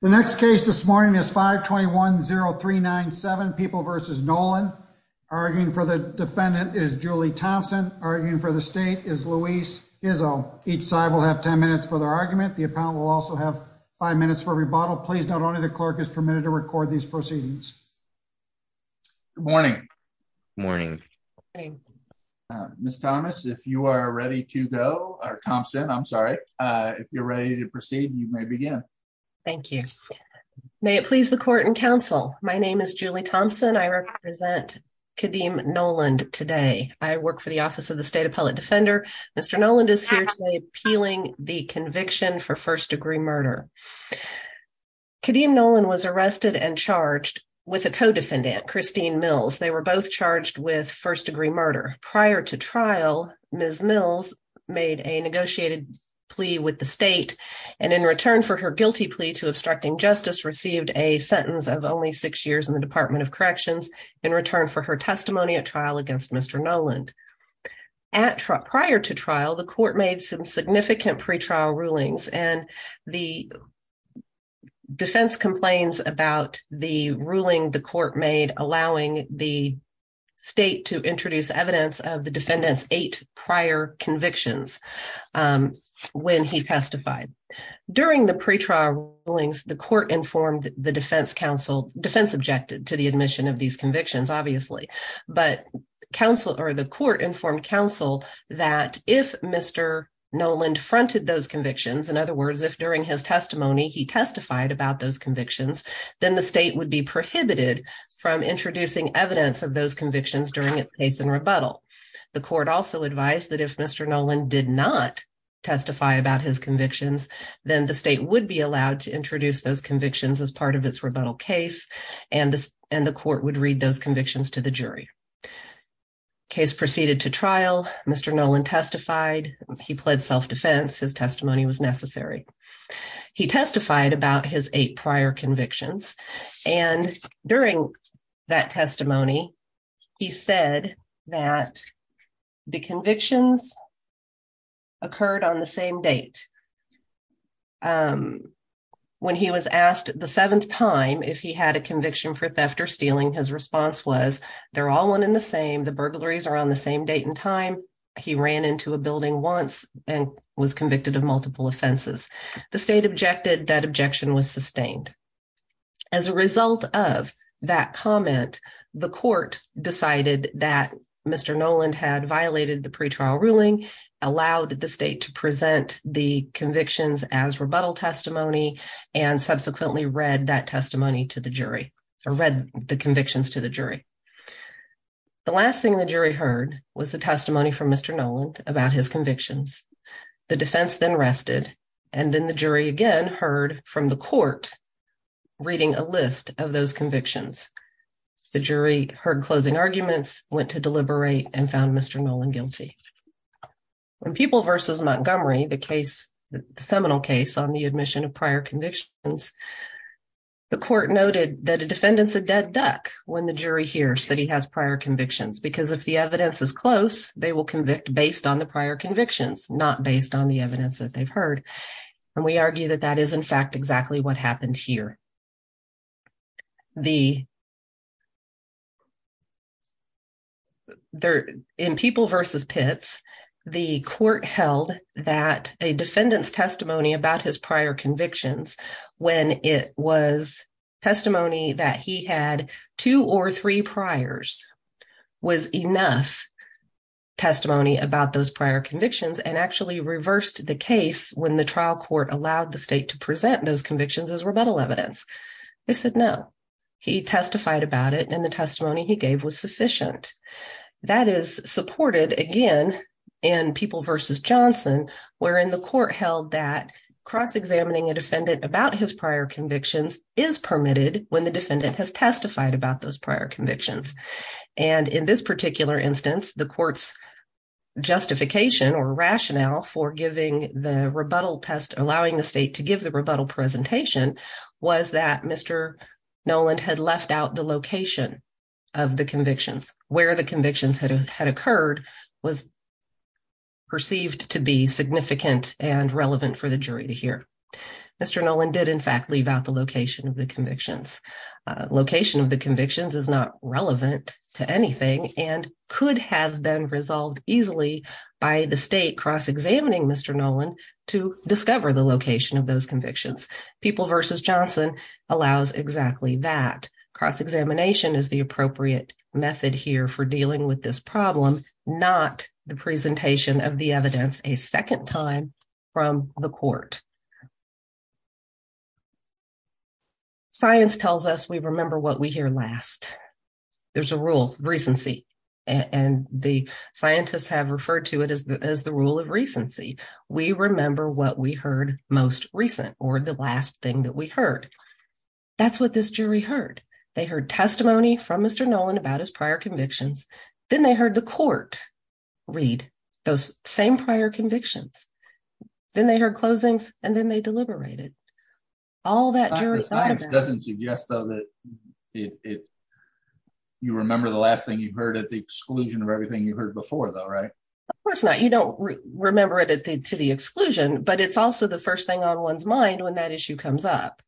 The next case this morning is 521-0397, People v. Noland. Arguing for the defendant is Julie Thompson. Arguing for the state is Louise Gizzo. Each side will have 10 minutes for their argument. The appellant will also have 5 minutes for rebuttal. Please note only the clerk is permitted to record these proceedings. Good morning. Good morning. Good morning. Ms. Thomas, if you are ready to go, or Thompson, I'm sorry, if you're ready to proceed, you may begin. Thank you. May it please the court and counsel. My name is Julie Thompson. I represent Kadeem Noland today. I work for the Office of the State Appellate Defender. Mr. Noland is here today appealing the conviction for first degree murder. Kadeem Noland was arrested and charged with a co-defendant, Christine Mills. They were both charged with first degree murder. Prior to trial, Ms. Mills made a negotiated plea with the state, and in return for her guilty plea to obstructing justice, received a sentence of only six years in the Department of Corrections, in return for her testimony at trial against Mr. Noland. Prior to trial, the court made some significant pretrial rulings, and the defense complains about the ruling the court made allowing the state to introduce evidence of the defendant's eight prior convictions when he testified. During the pretrial rulings, the court informed the defense counsel, defense objected to the admission of these convictions, obviously, but counsel, or the court informed counsel that if Mr. Noland fronted those convictions, in other words, if during his then the state would be prohibited from introducing evidence of those convictions during its case and rebuttal. The court also advised that if Mr. Noland did not testify about his convictions, then the state would be allowed to introduce those convictions as part of its rebuttal case, and the court would read those convictions to the jury. Case proceeded to trial, Mr. Noland testified. He pled self-defense. His testimony was necessary. He testified about his prior convictions, and during that testimony, he said that the convictions occurred on the same date. When he was asked the seventh time if he had a conviction for theft or stealing, his response was they're all one in the same. The burglaries are on the same date and time. He ran into a building once and was convicted of multiple offenses. The state objected. That objection was sustained. As a result of that comment, the court decided that Mr. Noland had violated the pretrial ruling, allowed the state to present the convictions as rebuttal testimony, and subsequently read that testimony to the jury, or read the convictions to the jury. The last thing the jury heard was the defense then rested, and then the jury again heard from the court reading a list of those convictions. The jury heard closing arguments, went to deliberate, and found Mr. Noland guilty. When People v. Montgomery, the case, the seminal case on the admission of prior convictions, the court noted that a defendant's a dead duck when the jury hears that he has prior convictions, because if the evidence is close, they will convict based on the prior convictions, not based on the evidence that they've heard. And we argue that that is, in fact, exactly what happened here. In People v. Pitts, the court held that a defendant's testimony about his prior convictions when it was testimony that he had two or three priors was enough testimony about those prior convictions, and actually reversed the case when the trial court allowed the state to present those convictions as rebuttal evidence. They said no. He testified about it, and the testimony he gave was sufficient. That is supported, again, in People v. Johnson, wherein the court held that cross-examining a defendant about his prior convictions is permitted when the defendant has testified about those prior convictions. And in this particular instance, the court's justification or rationale for giving the rebuttal test, allowing the state to give the rebuttal presentation, was that Mr. Noland had left out the location of the convictions. Where the Mr. Noland did, in fact, leave out the location of the convictions. Location of the convictions is not relevant to anything and could have been resolved easily by the state cross-examining Mr. Noland to discover the location of those convictions. People v. Johnson allows exactly that. Cross-examination is the appropriate method here for dealing with this problem, not the presentation of the evidence a second time from the court. Science tells us we remember what we hear last. There's a rule, recency, and the scientists have referred to it as the rule of recency. We remember what we heard most recent, or the last thing that we heard. That's what this jury heard. They heard testimony from Mr. Noland about his prior convictions. Then they heard the court read those same prior convictions. Then they heard closings, and then they deliberated. All that doesn't suggest though that you remember the last thing you heard at the exclusion of everything you heard before though, right? Of course not. You don't remember it to the exclusion, but it's also the first thing on one's mind when that issue comes up.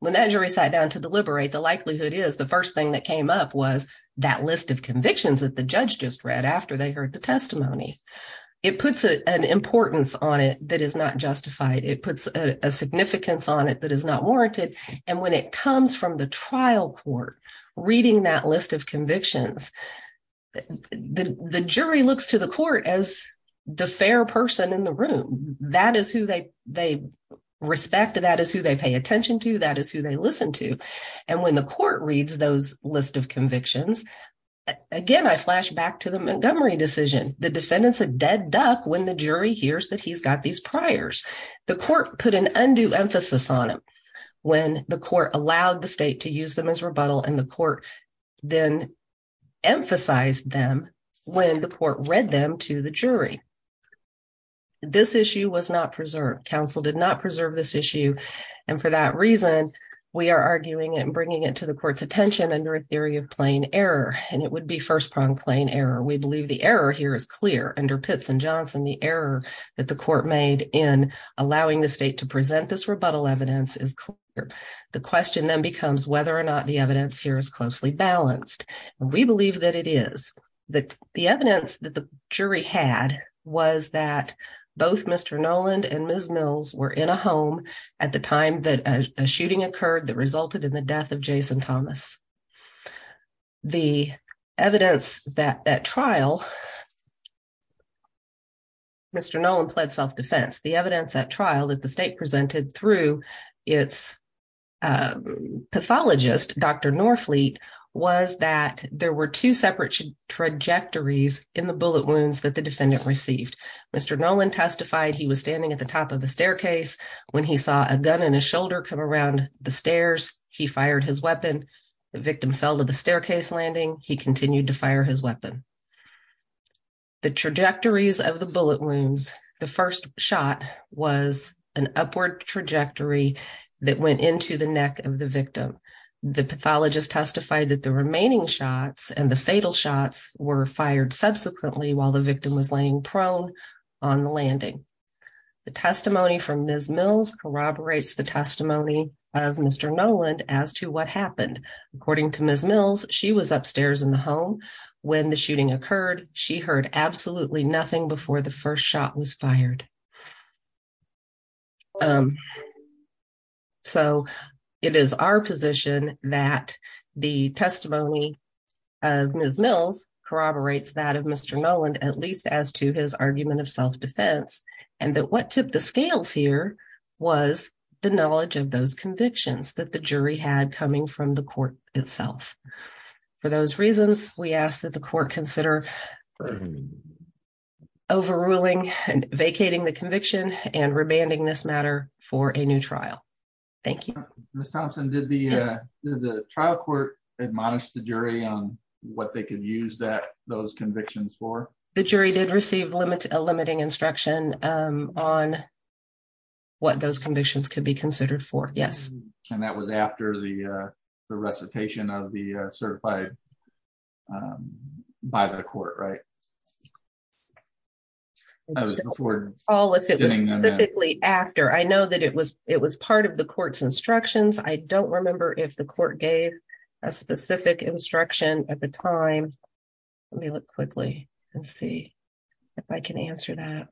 When that jury sat down to deliberate, the likelihood is the first thing that came up was that list of convictions that the judge just read after they testimony. It puts an importance on it that is not justified. It puts a significance on it that is not warranted. When it comes from the trial court reading that list of convictions, the jury looks to the court as the fair person in the room. That is who they respect. That is who they pay attention to. That is who they listen to. When the court reads those list of convictions, again, I flash back to the Montgomery decision. The defendant's a dead duck when the jury hears that he's got these priors. The court put an undue emphasis on them when the court allowed the state to use them as rebuttal, and the court then emphasized them when the court read them to the jury. This issue was not preserved. Counsel did not preserve this issue, and for that reason, we are arguing and bringing it to the court's attention under a theory of plain error, and it would be first-pronged plain error. We believe the error here is clear. Under Pitts and Johnson, the error that the court made in allowing the state to present this rebuttal evidence is clear. The question then becomes whether or not the evidence here is closely balanced. We believe that it is. The evidence that the jury had was that both Mr. Noland and the state presented through its pathologist, Dr. Norfleet, was that there were two separate trajectories in the bullet wounds that the defendant received. Mr. Noland testified he was standing at the top of a staircase. When he saw a gun in his shoulder come around the stairs, he fired his weapon. The victim fell to the staircase landing. He continued to fire his weapon. The trajectories of the bullet wounds, the first shot was an upward trajectory that went into the neck of the victim. The pathologist testified that the remaining shots and the fatal shots were fired subsequently while the victim was laying prone on the landing. The testimony from Ms. Mills corroborates the testimony of Mr. Noland as to what happened. According to Ms. Mills, she was upstairs in the home when the shooting occurred. She heard absolutely nothing before the first shot was fired. It is our position that the testimony of Ms. Mills corroborates that of Mr. Noland, at least as to his argument of self-defense, and that what tipped the scales here was the knowledge of those convictions that the jury had coming from the court itself. For those reasons, we ask that the court consider overruling and vacating the conviction and remanding this matter for a new trial. Thank you. Ms. Thompson, did the trial court admonish the jury on what they could use those convictions for? The jury did receive a limiting instruction on what those convictions could be considered for, yes. And that was after the recitation of the certified by the court, right? All of it was specifically after. I know that it was part of the court's instructions. I don't remember if the court gave a specific instruction at the time. Let me look quickly and see if I can answer that.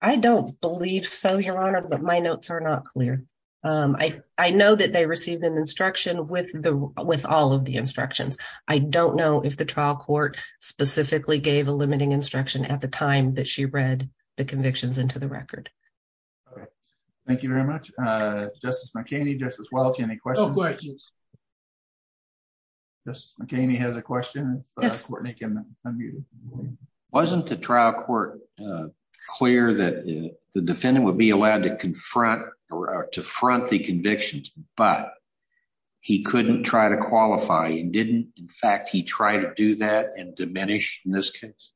I don't believe so, Your Honor, but my notes are not clear. I know that they received an instruction with all of the instructions. I don't know if the trial court specifically gave a limiting instruction at the time that she read the convictions into record. Thank you very much. Justice McKinney, Justice Welch, any questions? Justice McKinney has a question. Yes. Wasn't the trial court clear that the defendant would be allowed to confront or to front the convictions, but he couldn't try to qualify? And didn't, in fact, he try to do that and diminish in this case?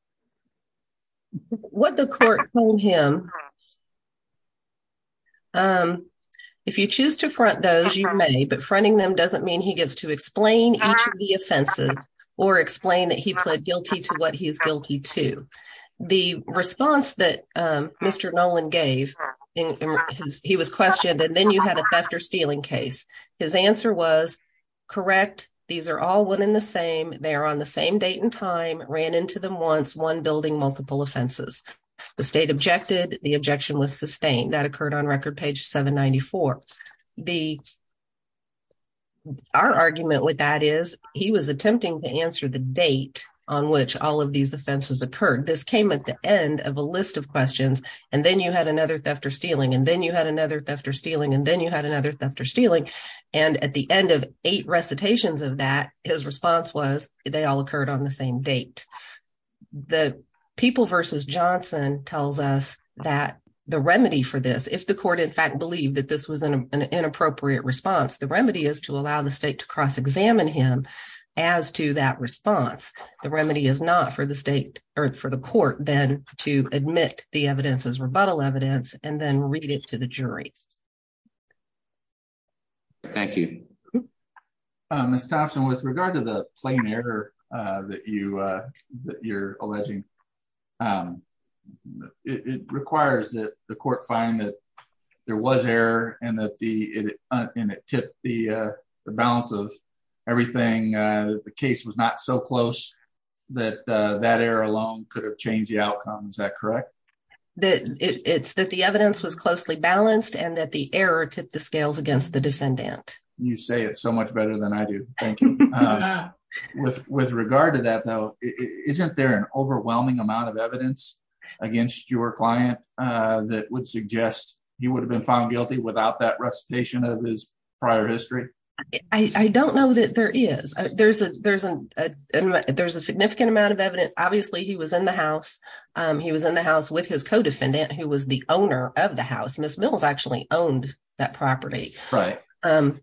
What the court told him, if you choose to front those, you may, but fronting them doesn't mean he gets to explain each of the offenses or explain that he pled guilty to what he's guilty to. The response that Mr. Nolan gave, he was questioned, and then you had a theft or stealing case. His answer was, correct. These are all one in the same. They are on the same date and time, ran into them once, one building, multiple offenses. The state objected. The objection was sustained. That occurred on record page 794. Our argument with that is he was attempting to answer the date on which all of these offenses occurred. This came at the end of a list of questions, and then you had another theft or stealing, and then you had another theft or stealing, and then you had another theft or stealing. And at the end of eight recitations of that, his response was, they all occurred on the same date. The people versus Johnson tells us that the remedy for this, if the court, in fact, believed that this was an inappropriate response, the remedy is to allow the state to cross-examine him as to that response. The remedy is not for the state or for the court then to admit the evidence as rebuttal evidence and then read it the jury. Thank you. Ms. Thompson, with regard to the plain error that you're alleging, it requires that the court find that there was error and that it tipped the balance of everything. The case was not so close that that error alone could have changed the outcome. Is and that the error tipped the scales against the defendant. You say it so much better than I do. Thank you. With regard to that, though, isn't there an overwhelming amount of evidence against your client that would suggest he would have been found guilty without that recitation of his prior history? I don't know that there is. There's a significant amount of evidence. Obviously, he was in the house. He was in the house with his co-defendant, who was the owner of the house. Ms. Mills actually owned that property. Right. And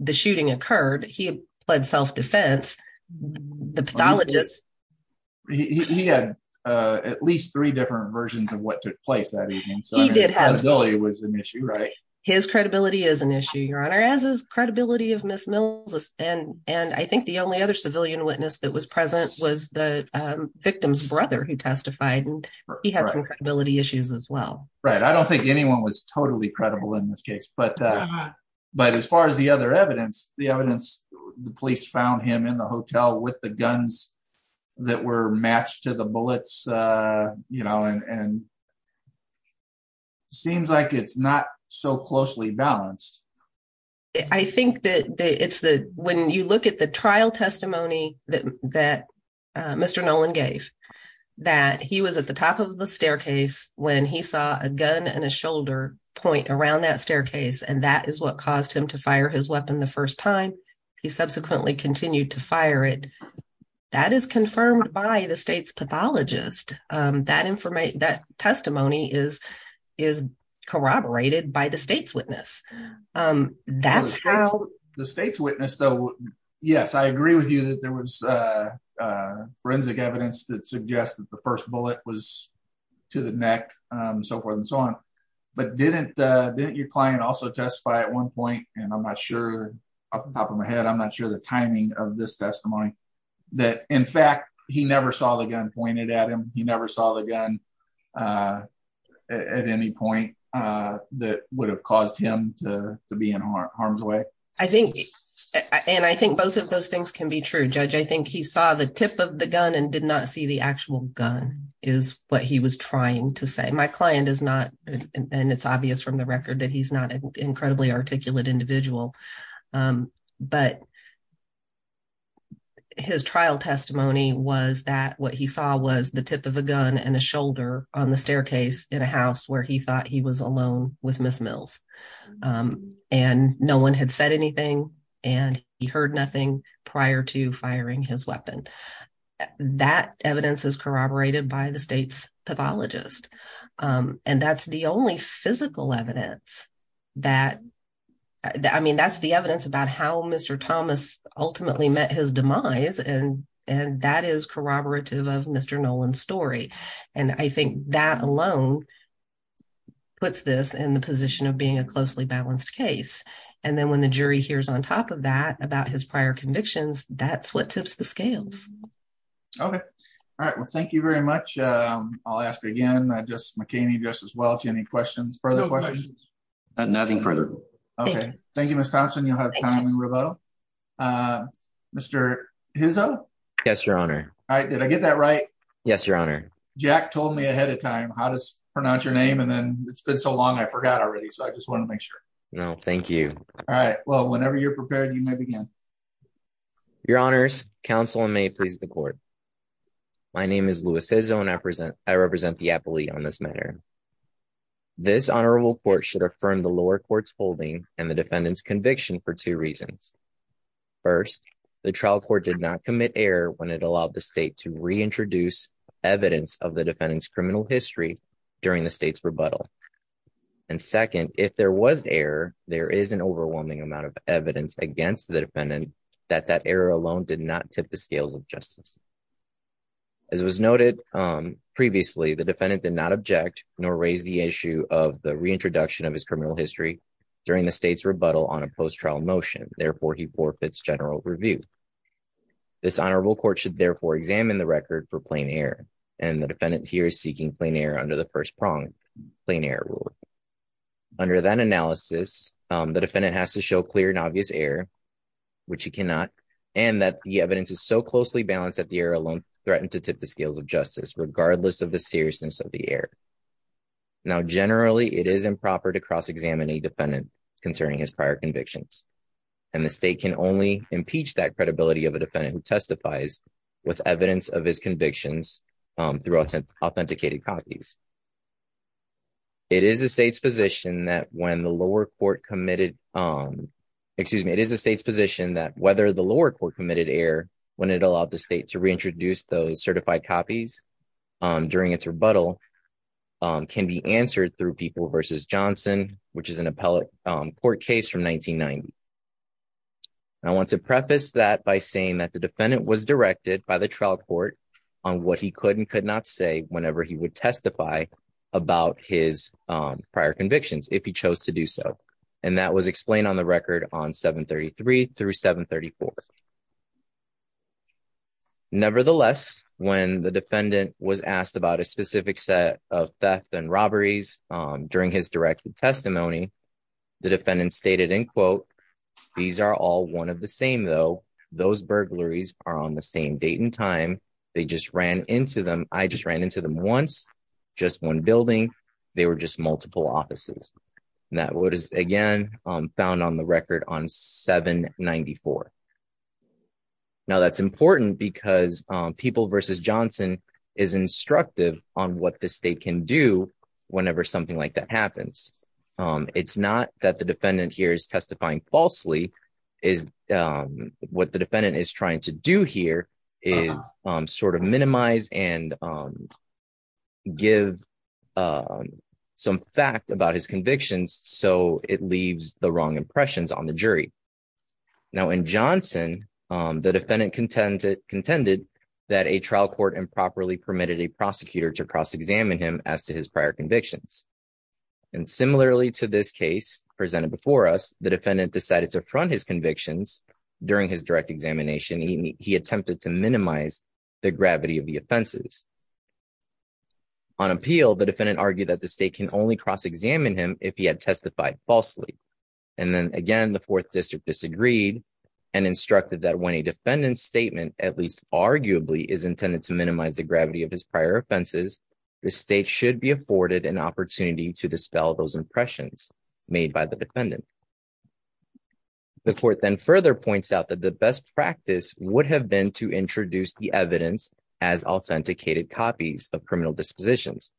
the shooting occurred. He pled self-defense. The pathologist. He had at least three different versions of what took place that evening. So he did have. It was an issue, right? His credibility is an issue, Your Honor, as is credibility of Ms. Mills. And and I think the only other civilian witness that was present was the victim's brother who testified. And he had some credibility issues as well. Right. I don't think anyone was totally credible in this case. But but as far as the other evidence, the evidence, the police found him in the hotel with the guns that were matched to the bullets, you know, and. Seems like it's not so closely balanced. I think that it's the when you look at the trial testimony that that Mr. Nolan gave that he was at the top of the staircase when he saw a gun and a shoulder point around that staircase. And that is what caused him to fire his weapon the first time he subsequently continued to fire it. That is confirmed by the state's pathologist. That information, that testimony is is corroborated by the state's Yes, I agree with you that there was forensic evidence that suggests that the first bullet was to the neck, so forth and so on. But didn't didn't your client also testify at one point? And I'm not sure off the top of my head. I'm not sure the timing of this testimony that in fact, he never saw the gun pointed at him. He never saw the gun at any point that would have caused him to be in harm's way. I think and I think both of those things can be true. Judge, I think he saw the tip of the gun and did not see the actual gun is what he was trying to say. My client is not and it's obvious from the record that he's not an incredibly articulate individual. But his trial testimony was that what he saw was the tip of a gun and a shoulder on the staircase in a house where he thought he was alone with Miss Mills. And no one had said anything. And he heard nothing prior to firing his weapon. That evidence is corroborated by the state's pathologist. And that's the only physical evidence that I mean, that's the evidence about how Mr. Thomas ultimately met his demise. And that is corroborative of Mr. Nolan story. And I think that alone puts this in the position of being a closely balanced case. And then when the jury hears on top of that about his prior convictions, that's what tips the scales. Okay. All right. Well, thank you very much. I'll ask again, just McCain just as well. Do you have any questions? Further questions? Nothing further. Okay. Thank you, Mr. Thompson. You have time and rebuttal. Mr. Hizzo. Yes, Your Honor. All right. Did I get that? Right? Yes, Your Honor. Jack told me ahead of time, how does pronounce your name? And then it's been so long. I forgot already. So I just want to make sure. No, thank you. All right. Well, whenever you're prepared, you may begin. Your Honors Council may please the court. My name is Louis Hizzo. And I present I should affirm the lower courts holding and the defendant's conviction for two reasons. First, the trial court did not commit error when it allowed the state to reintroduce evidence of the defendant's criminal history during the state's rebuttal. And second, if there was error, there is an overwhelming amount of evidence against the defendant, that that error alone did not tip the scales of justice. As was noted, previously, the defendant did not object nor raise the issue of the reintroduction of his criminal history during the state's rebuttal on a post trial motion. Therefore, he forfeits general review. This honorable court should therefore examine the record for plain air. And the defendant here is seeking plain air under the first prong plain air rule. Under that analysis, the defendant has to show clear and obvious error, which he cannot, and that the evidence is so closely balanced that error alone threatened to tip the scales of justice regardless of the seriousness of the error. Now, generally, it is improper to cross examine a defendant concerning his prior convictions. And the state can only impeach that credibility of a defendant who testifies with evidence of his convictions through authenticated copies. It is a state's position that when the lower court committed, excuse me, it is a state's reintroduce those certified copies during its rebuttal can be answered through people versus Johnson, which is an appellate court case from 1990. I want to preface that by saying that the defendant was directed by the trial court on what he could and could not say whenever he would testify about his prior convictions if he chose to do so. And that was explained on the record on 733 through 734. Nevertheless, when the defendant was asked about a specific set of theft and robberies during his directed testimony, the defendant stated in quote, these are all one of the same, though those burglaries are on the same date and time. They just ran into them. I just ran into them once, just one building. They were just multiple offices. And that what is, again, found on the record on 794. Now, that's important because people versus Johnson is instructive on what the state can do whenever something like that happens. It's not that the defendant here is testifying falsely is what the defendant is trying to do here is sort of minimize and give some fact about his convictions so it leaves the wrong impressions on the jury. Now in Johnson, the defendant contended that a trial court improperly permitted a prosecutor to cross-examine him as to his prior convictions. And similarly to this case presented before us, the defendant decided to front his convictions during his direct examination. He attempted to cross-examine him. On appeal, the defendant argued that the state can only cross-examine him if he had testified falsely. And then again, the fourth district disagreed and instructed that when a defendant's statement, at least arguably, is intended to minimize the gravity of his prior offenses, the state should be afforded an opportunity to dispel those impressions made by the defendant. The court then further points out that the best practice would have been to copies of criminal dispositions.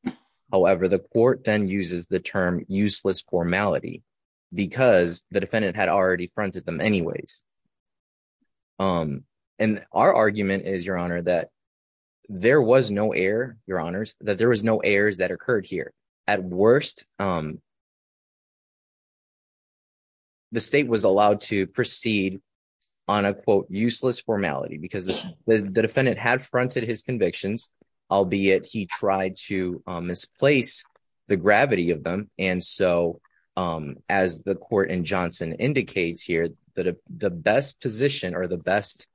However, the court then uses the term useless formality because the defendant had already fronted them anyways. And our argument is, your honor, that there was no error, your honors, that there was no errors that occurred here. At worst, the state was allowed to proceed on a quote useless formality because the defendant had fronted his convictions, albeit he tried to misplace the gravity of them. And so, as the court in Johnson indicates here, that the best position or the best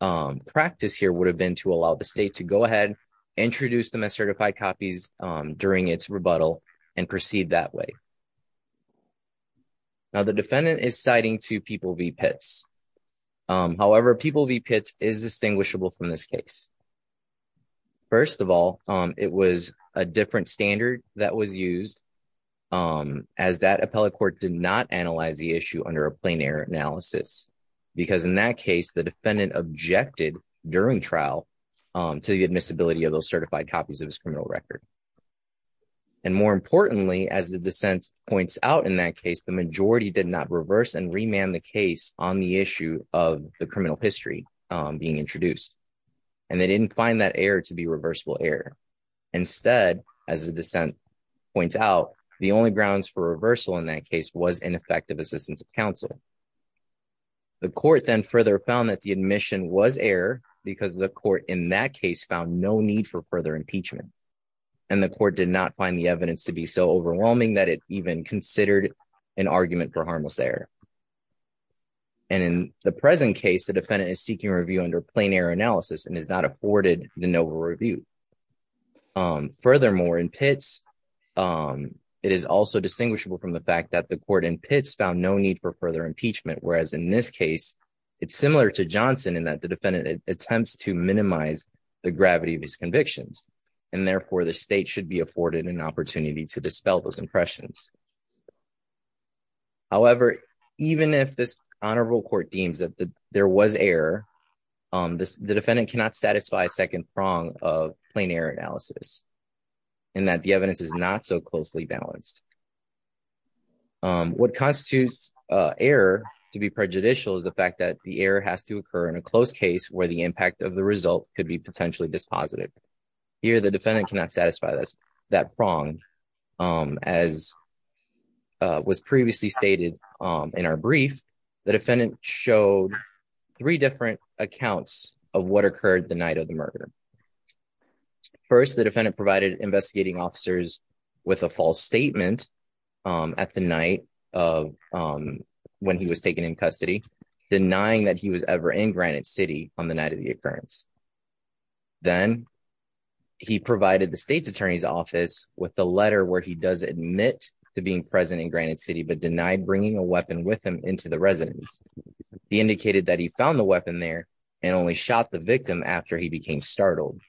practice here would have been to allow the state to go ahead, introduce them as certified copies during its rebuttal, and proceed that way. Now, the defendant is citing to People v. Pitts. However, People v. Pitts is distinguishable from this case. First of all, it was a different standard that was used as that appellate court did not analyze the issue under a plain error analysis. Because in that case, the defendant objected during trial to the admissibility of those certified copies of his criminal record. And more importantly, as the dissent points out in that did not reverse and remand the case on the issue of the criminal history being introduced. And they didn't find that error to be reversible error. Instead, as the dissent points out, the only grounds for reversal in that case was ineffective assistance of counsel. The court then further found that the admission was error, because the court in that case found no need for further impeachment. And the court did not find the evidence to be so overwhelming that it even considered an argument for harmless error. And in the present case, the defendant is seeking review under plain error analysis and is not afforded the NOVA review. Furthermore, in Pitts, it is also distinguishable from the fact that the court in Pitts found no need for further impeachment, whereas in this case, it's similar to Johnson in that the defendant attempts to minimize the gravity of his convictions. And therefore, the state should be afforded an opportunity to However, even if this honorable court deems that there was error on this, the defendant cannot satisfy second prong of plain error analysis, and that the evidence is not so closely balanced. What constitutes error to be prejudicial is the fact that the error has to occur in a close case where the impact of the result could be potentially dispositive. Here, the defendant cannot satisfy that prong. As was previously stated in our brief, the defendant showed three different accounts of what occurred the night of the murder. First, the defendant provided investigating officers with a false statement at the night of when he was taken in custody, denying that he was ever in Granite City on the night of the occurrence. Then, he provided the state's attorney's office with the letter where he does admit to being present in Granite City but denied bringing a weapon with him into the residence. He indicated that he found the weapon there and only shot the victim after he became startled.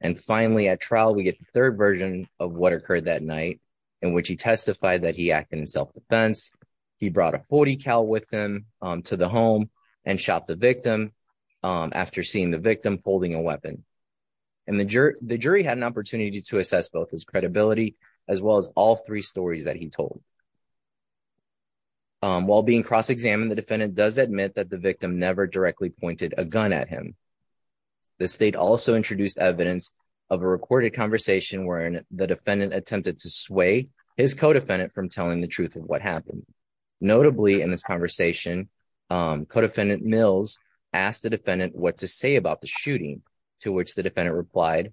And finally, at trial, we get the third version of what occurred that night, in which he testified that he acted in self-defense. He brought a 40-cal with him to the home and shot the victim after seeing the victim holding a weapon. And the jury had an opportunity to assess both his credibility as well as all three stories that he told. While being cross-examined, the defendant does admit that the victim never directly pointed a gun at him. The state also introduced evidence of a recorded conversation wherein the defendant attempted to sway his co-defendant from telling the truth of what happened. Notably, in this conversation, co-defendant Mills asked the defendant what to say about the shooting, to which the defendant replied,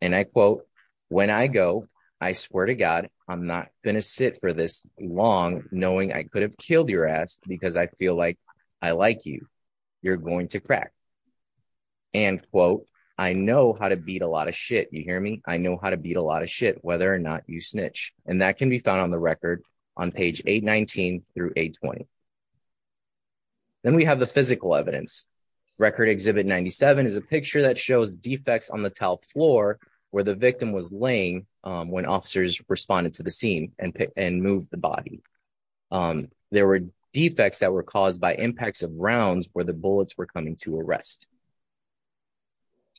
and I quote, when I go, I swear to God, I'm not going to sit for this long knowing I could have killed your ass because I feel like I like you. You're going to crack. And quote, I know how to beat a lot of shit. You hear me? I know how to beat a lot of shit, whether or not you snitch. And that can be found on the record on page 819 through 820. Then we have the physical evidence. Record exhibit 97 is a picture that shows defects on the tiled floor where the victim was laying when officers responded to the scene and moved the body. There were defects that were caused by impacts of rounds where the bullets were coming to arrest.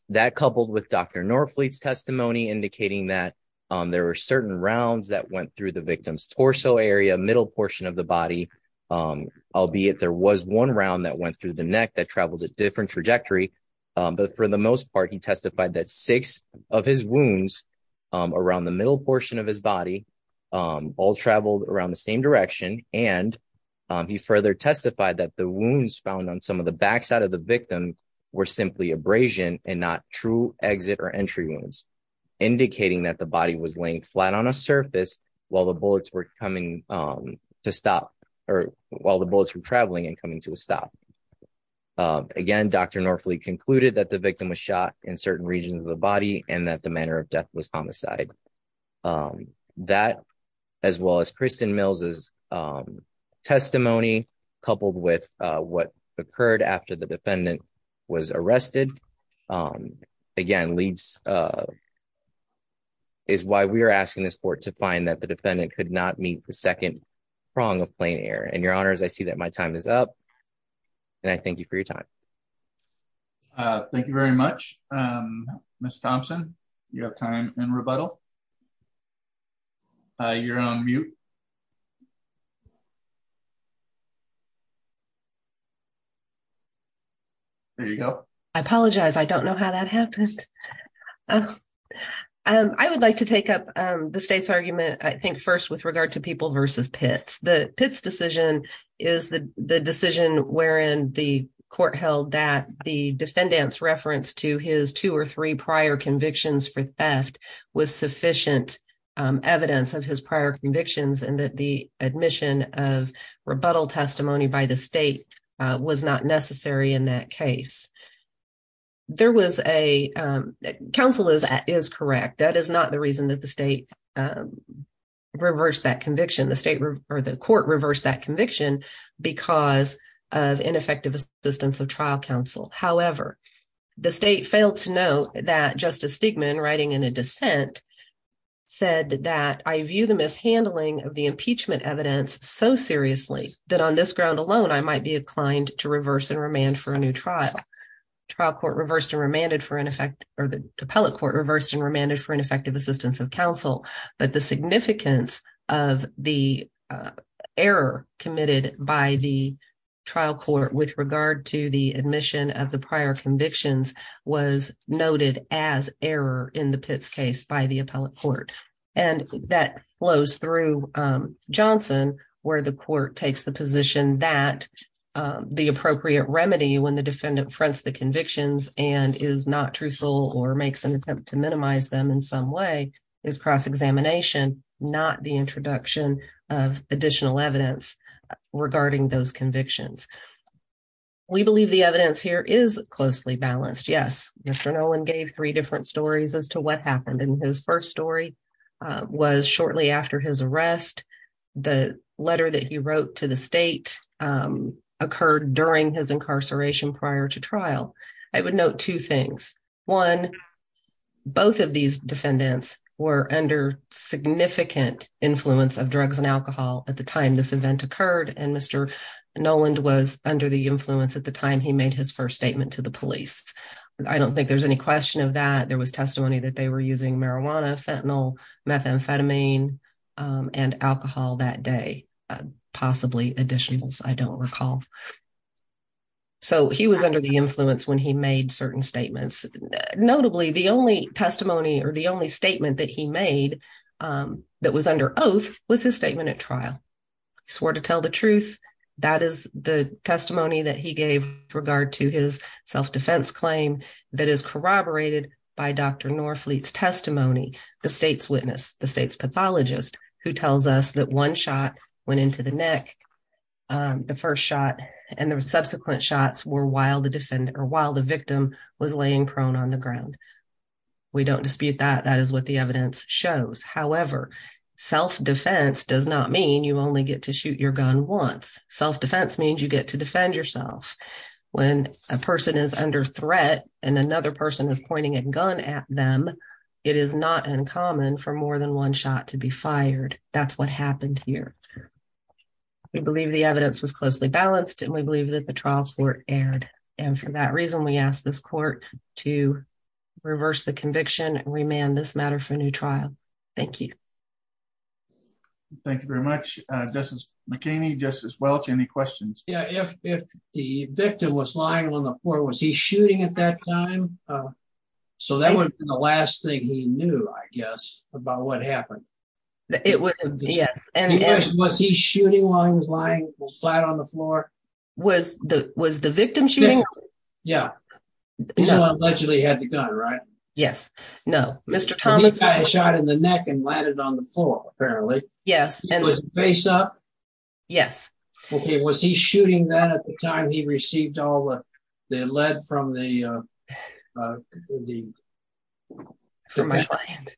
That coupled with Dr. Norfleet's testimony indicating that there were certain rounds that went through the victim's torso area, middle portion of the body, albeit there was one round that went through the neck that traveled a different trajectory, but for the most part, he testified that six of his wounds around the middle portion of his body all traveled around the same direction and he further testified that the wounds found on some of the backside of the victim were simply abrasion and not true exit or entry wounds, indicating that the body was laying flat on a surface while the bullets were traveling and coming to a stop. Again, Dr. Norfleet concluded that the victim was shot in certain regions of the body and that the um testimony coupled with uh what occurred after the defendant was arrested um again leads uh is why we are asking this court to find that the defendant could not meet the second prong of plain air and your honors I see that my time is up and I thank you for your time. Uh thank you very much um Miss Thompson you have time in rebuttal. Uh you're on mute. There you go. I apologize I don't know how that happened. Um I would like to take up um the state's argument I think first with regard to people versus Pitts. The Pitts decision is the the decision wherein the court held that the um evidence of his prior convictions and that the admission of rebuttal testimony by the state was not necessary in that case. There was a um counsel is is correct that is not the reason that the state um reversed that conviction the state or the court reversed that conviction because of ineffective assistance of trial counsel. However, the state failed to note that Justice Stigman writing in a dissent said that I view the mishandling of the impeachment evidence so seriously that on this ground alone I might be inclined to reverse and remand for a new trial. Trial court reversed and remanded for ineffective or the appellate court reversed and remanded for ineffective assistance of counsel but the significance of the uh error committed by the trial court with regard to the admission of the prior convictions was noted as error in the Pitts case by the appellate court and that flows through um Johnson where the court takes the position that the appropriate remedy when the defendant fronts the convictions and is not truthful or makes an attempt to minimize them in some way is cross-examination not the introduction of additional evidence regarding those convictions. We believe the evidence here is closely balanced. Yes, Mr. Nolan gave three different stories as to what happened and his first story was shortly after his arrest. The letter that he wrote to the state um occurred during his incarceration prior to trial. I would note two things. One, both of these defendants were under significant influence of drugs and alcohol at the time this event occurred and Mr. Noland was under the influence at the time he made his first statement to the police. I don't think there's any question of that. There was testimony that they were using marijuana, fentanyl, methamphetamine, um and alcohol that day. Possibly additionals, I don't recall. So he was under the influence when he made certain statements. Notably, the only testimony or the only statement that he made that was under oath was his statement at trial. He swore to tell the truth. That is the testimony that he gave regard to his self-defense claim that is corroborated by Dr. Norfleet's testimony, the state's witness, the state's pathologist who tells us that one shot went into the neck. The first shot and the subsequent shots were while the defendant or while the victim was laying prone on the ground. We don't dispute that. That is what the evidence shows. However, self-defense does not mean you only get to shoot your gun once. Self-defense means you get to defend yourself. When a person is under threat and another person is pointing a gun at them, it is not uncommon for more than one shot to be fired. That's what happened here. We believe the evidence was closely balanced and we believe that the trials were aired and for that reason we ask this court to reverse the conviction and remand this matter for a new trial. Thank you. Thank you very much, Justice McKinney. Justice Welch, any questions? Yeah, if the victim was lying on the floor, was he shooting at that time? So that would have been the last thing he knew, I guess, about what happened. Yes. Was he shooting while he was flat on the floor? Was the victim shooting? Yeah, he allegedly had the gun, right? Yes, no. Mr. Thomas got a shot in the neck and landed on the floor, apparently. Yes. Was he face up? Yes. Okay, was he shooting that at the time he received all the lead from the defendant?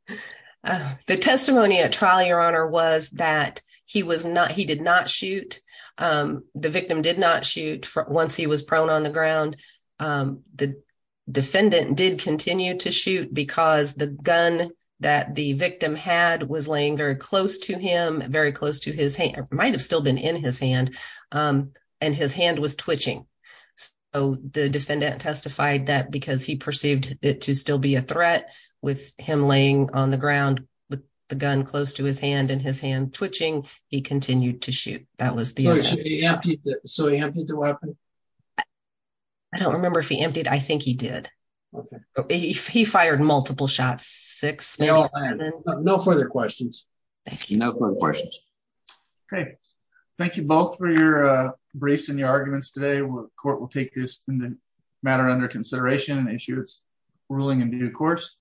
The testimony at trial, Your Honor, was that he did not shoot. The victim did not shoot once he was prone on the ground. The defendant did continue to shoot because the gun that the victim had was laying very close to him, very close to his hand. It might have still been in his hand and his hand was twitching. So the defendant testified that because he perceived it to still be a threat with him laying on the ground with the gun close to his hand and his hand twitching, he continued to shoot. That was the... So he emptied the weapon? I don't remember if he emptied. I think he did. Okay. He fired multiple shots, six. No further questions. Thank you. No further questions. Okay, thank you both for your briefs and your arguments today. The court will take this matter under consideration and issue its ruling in due course.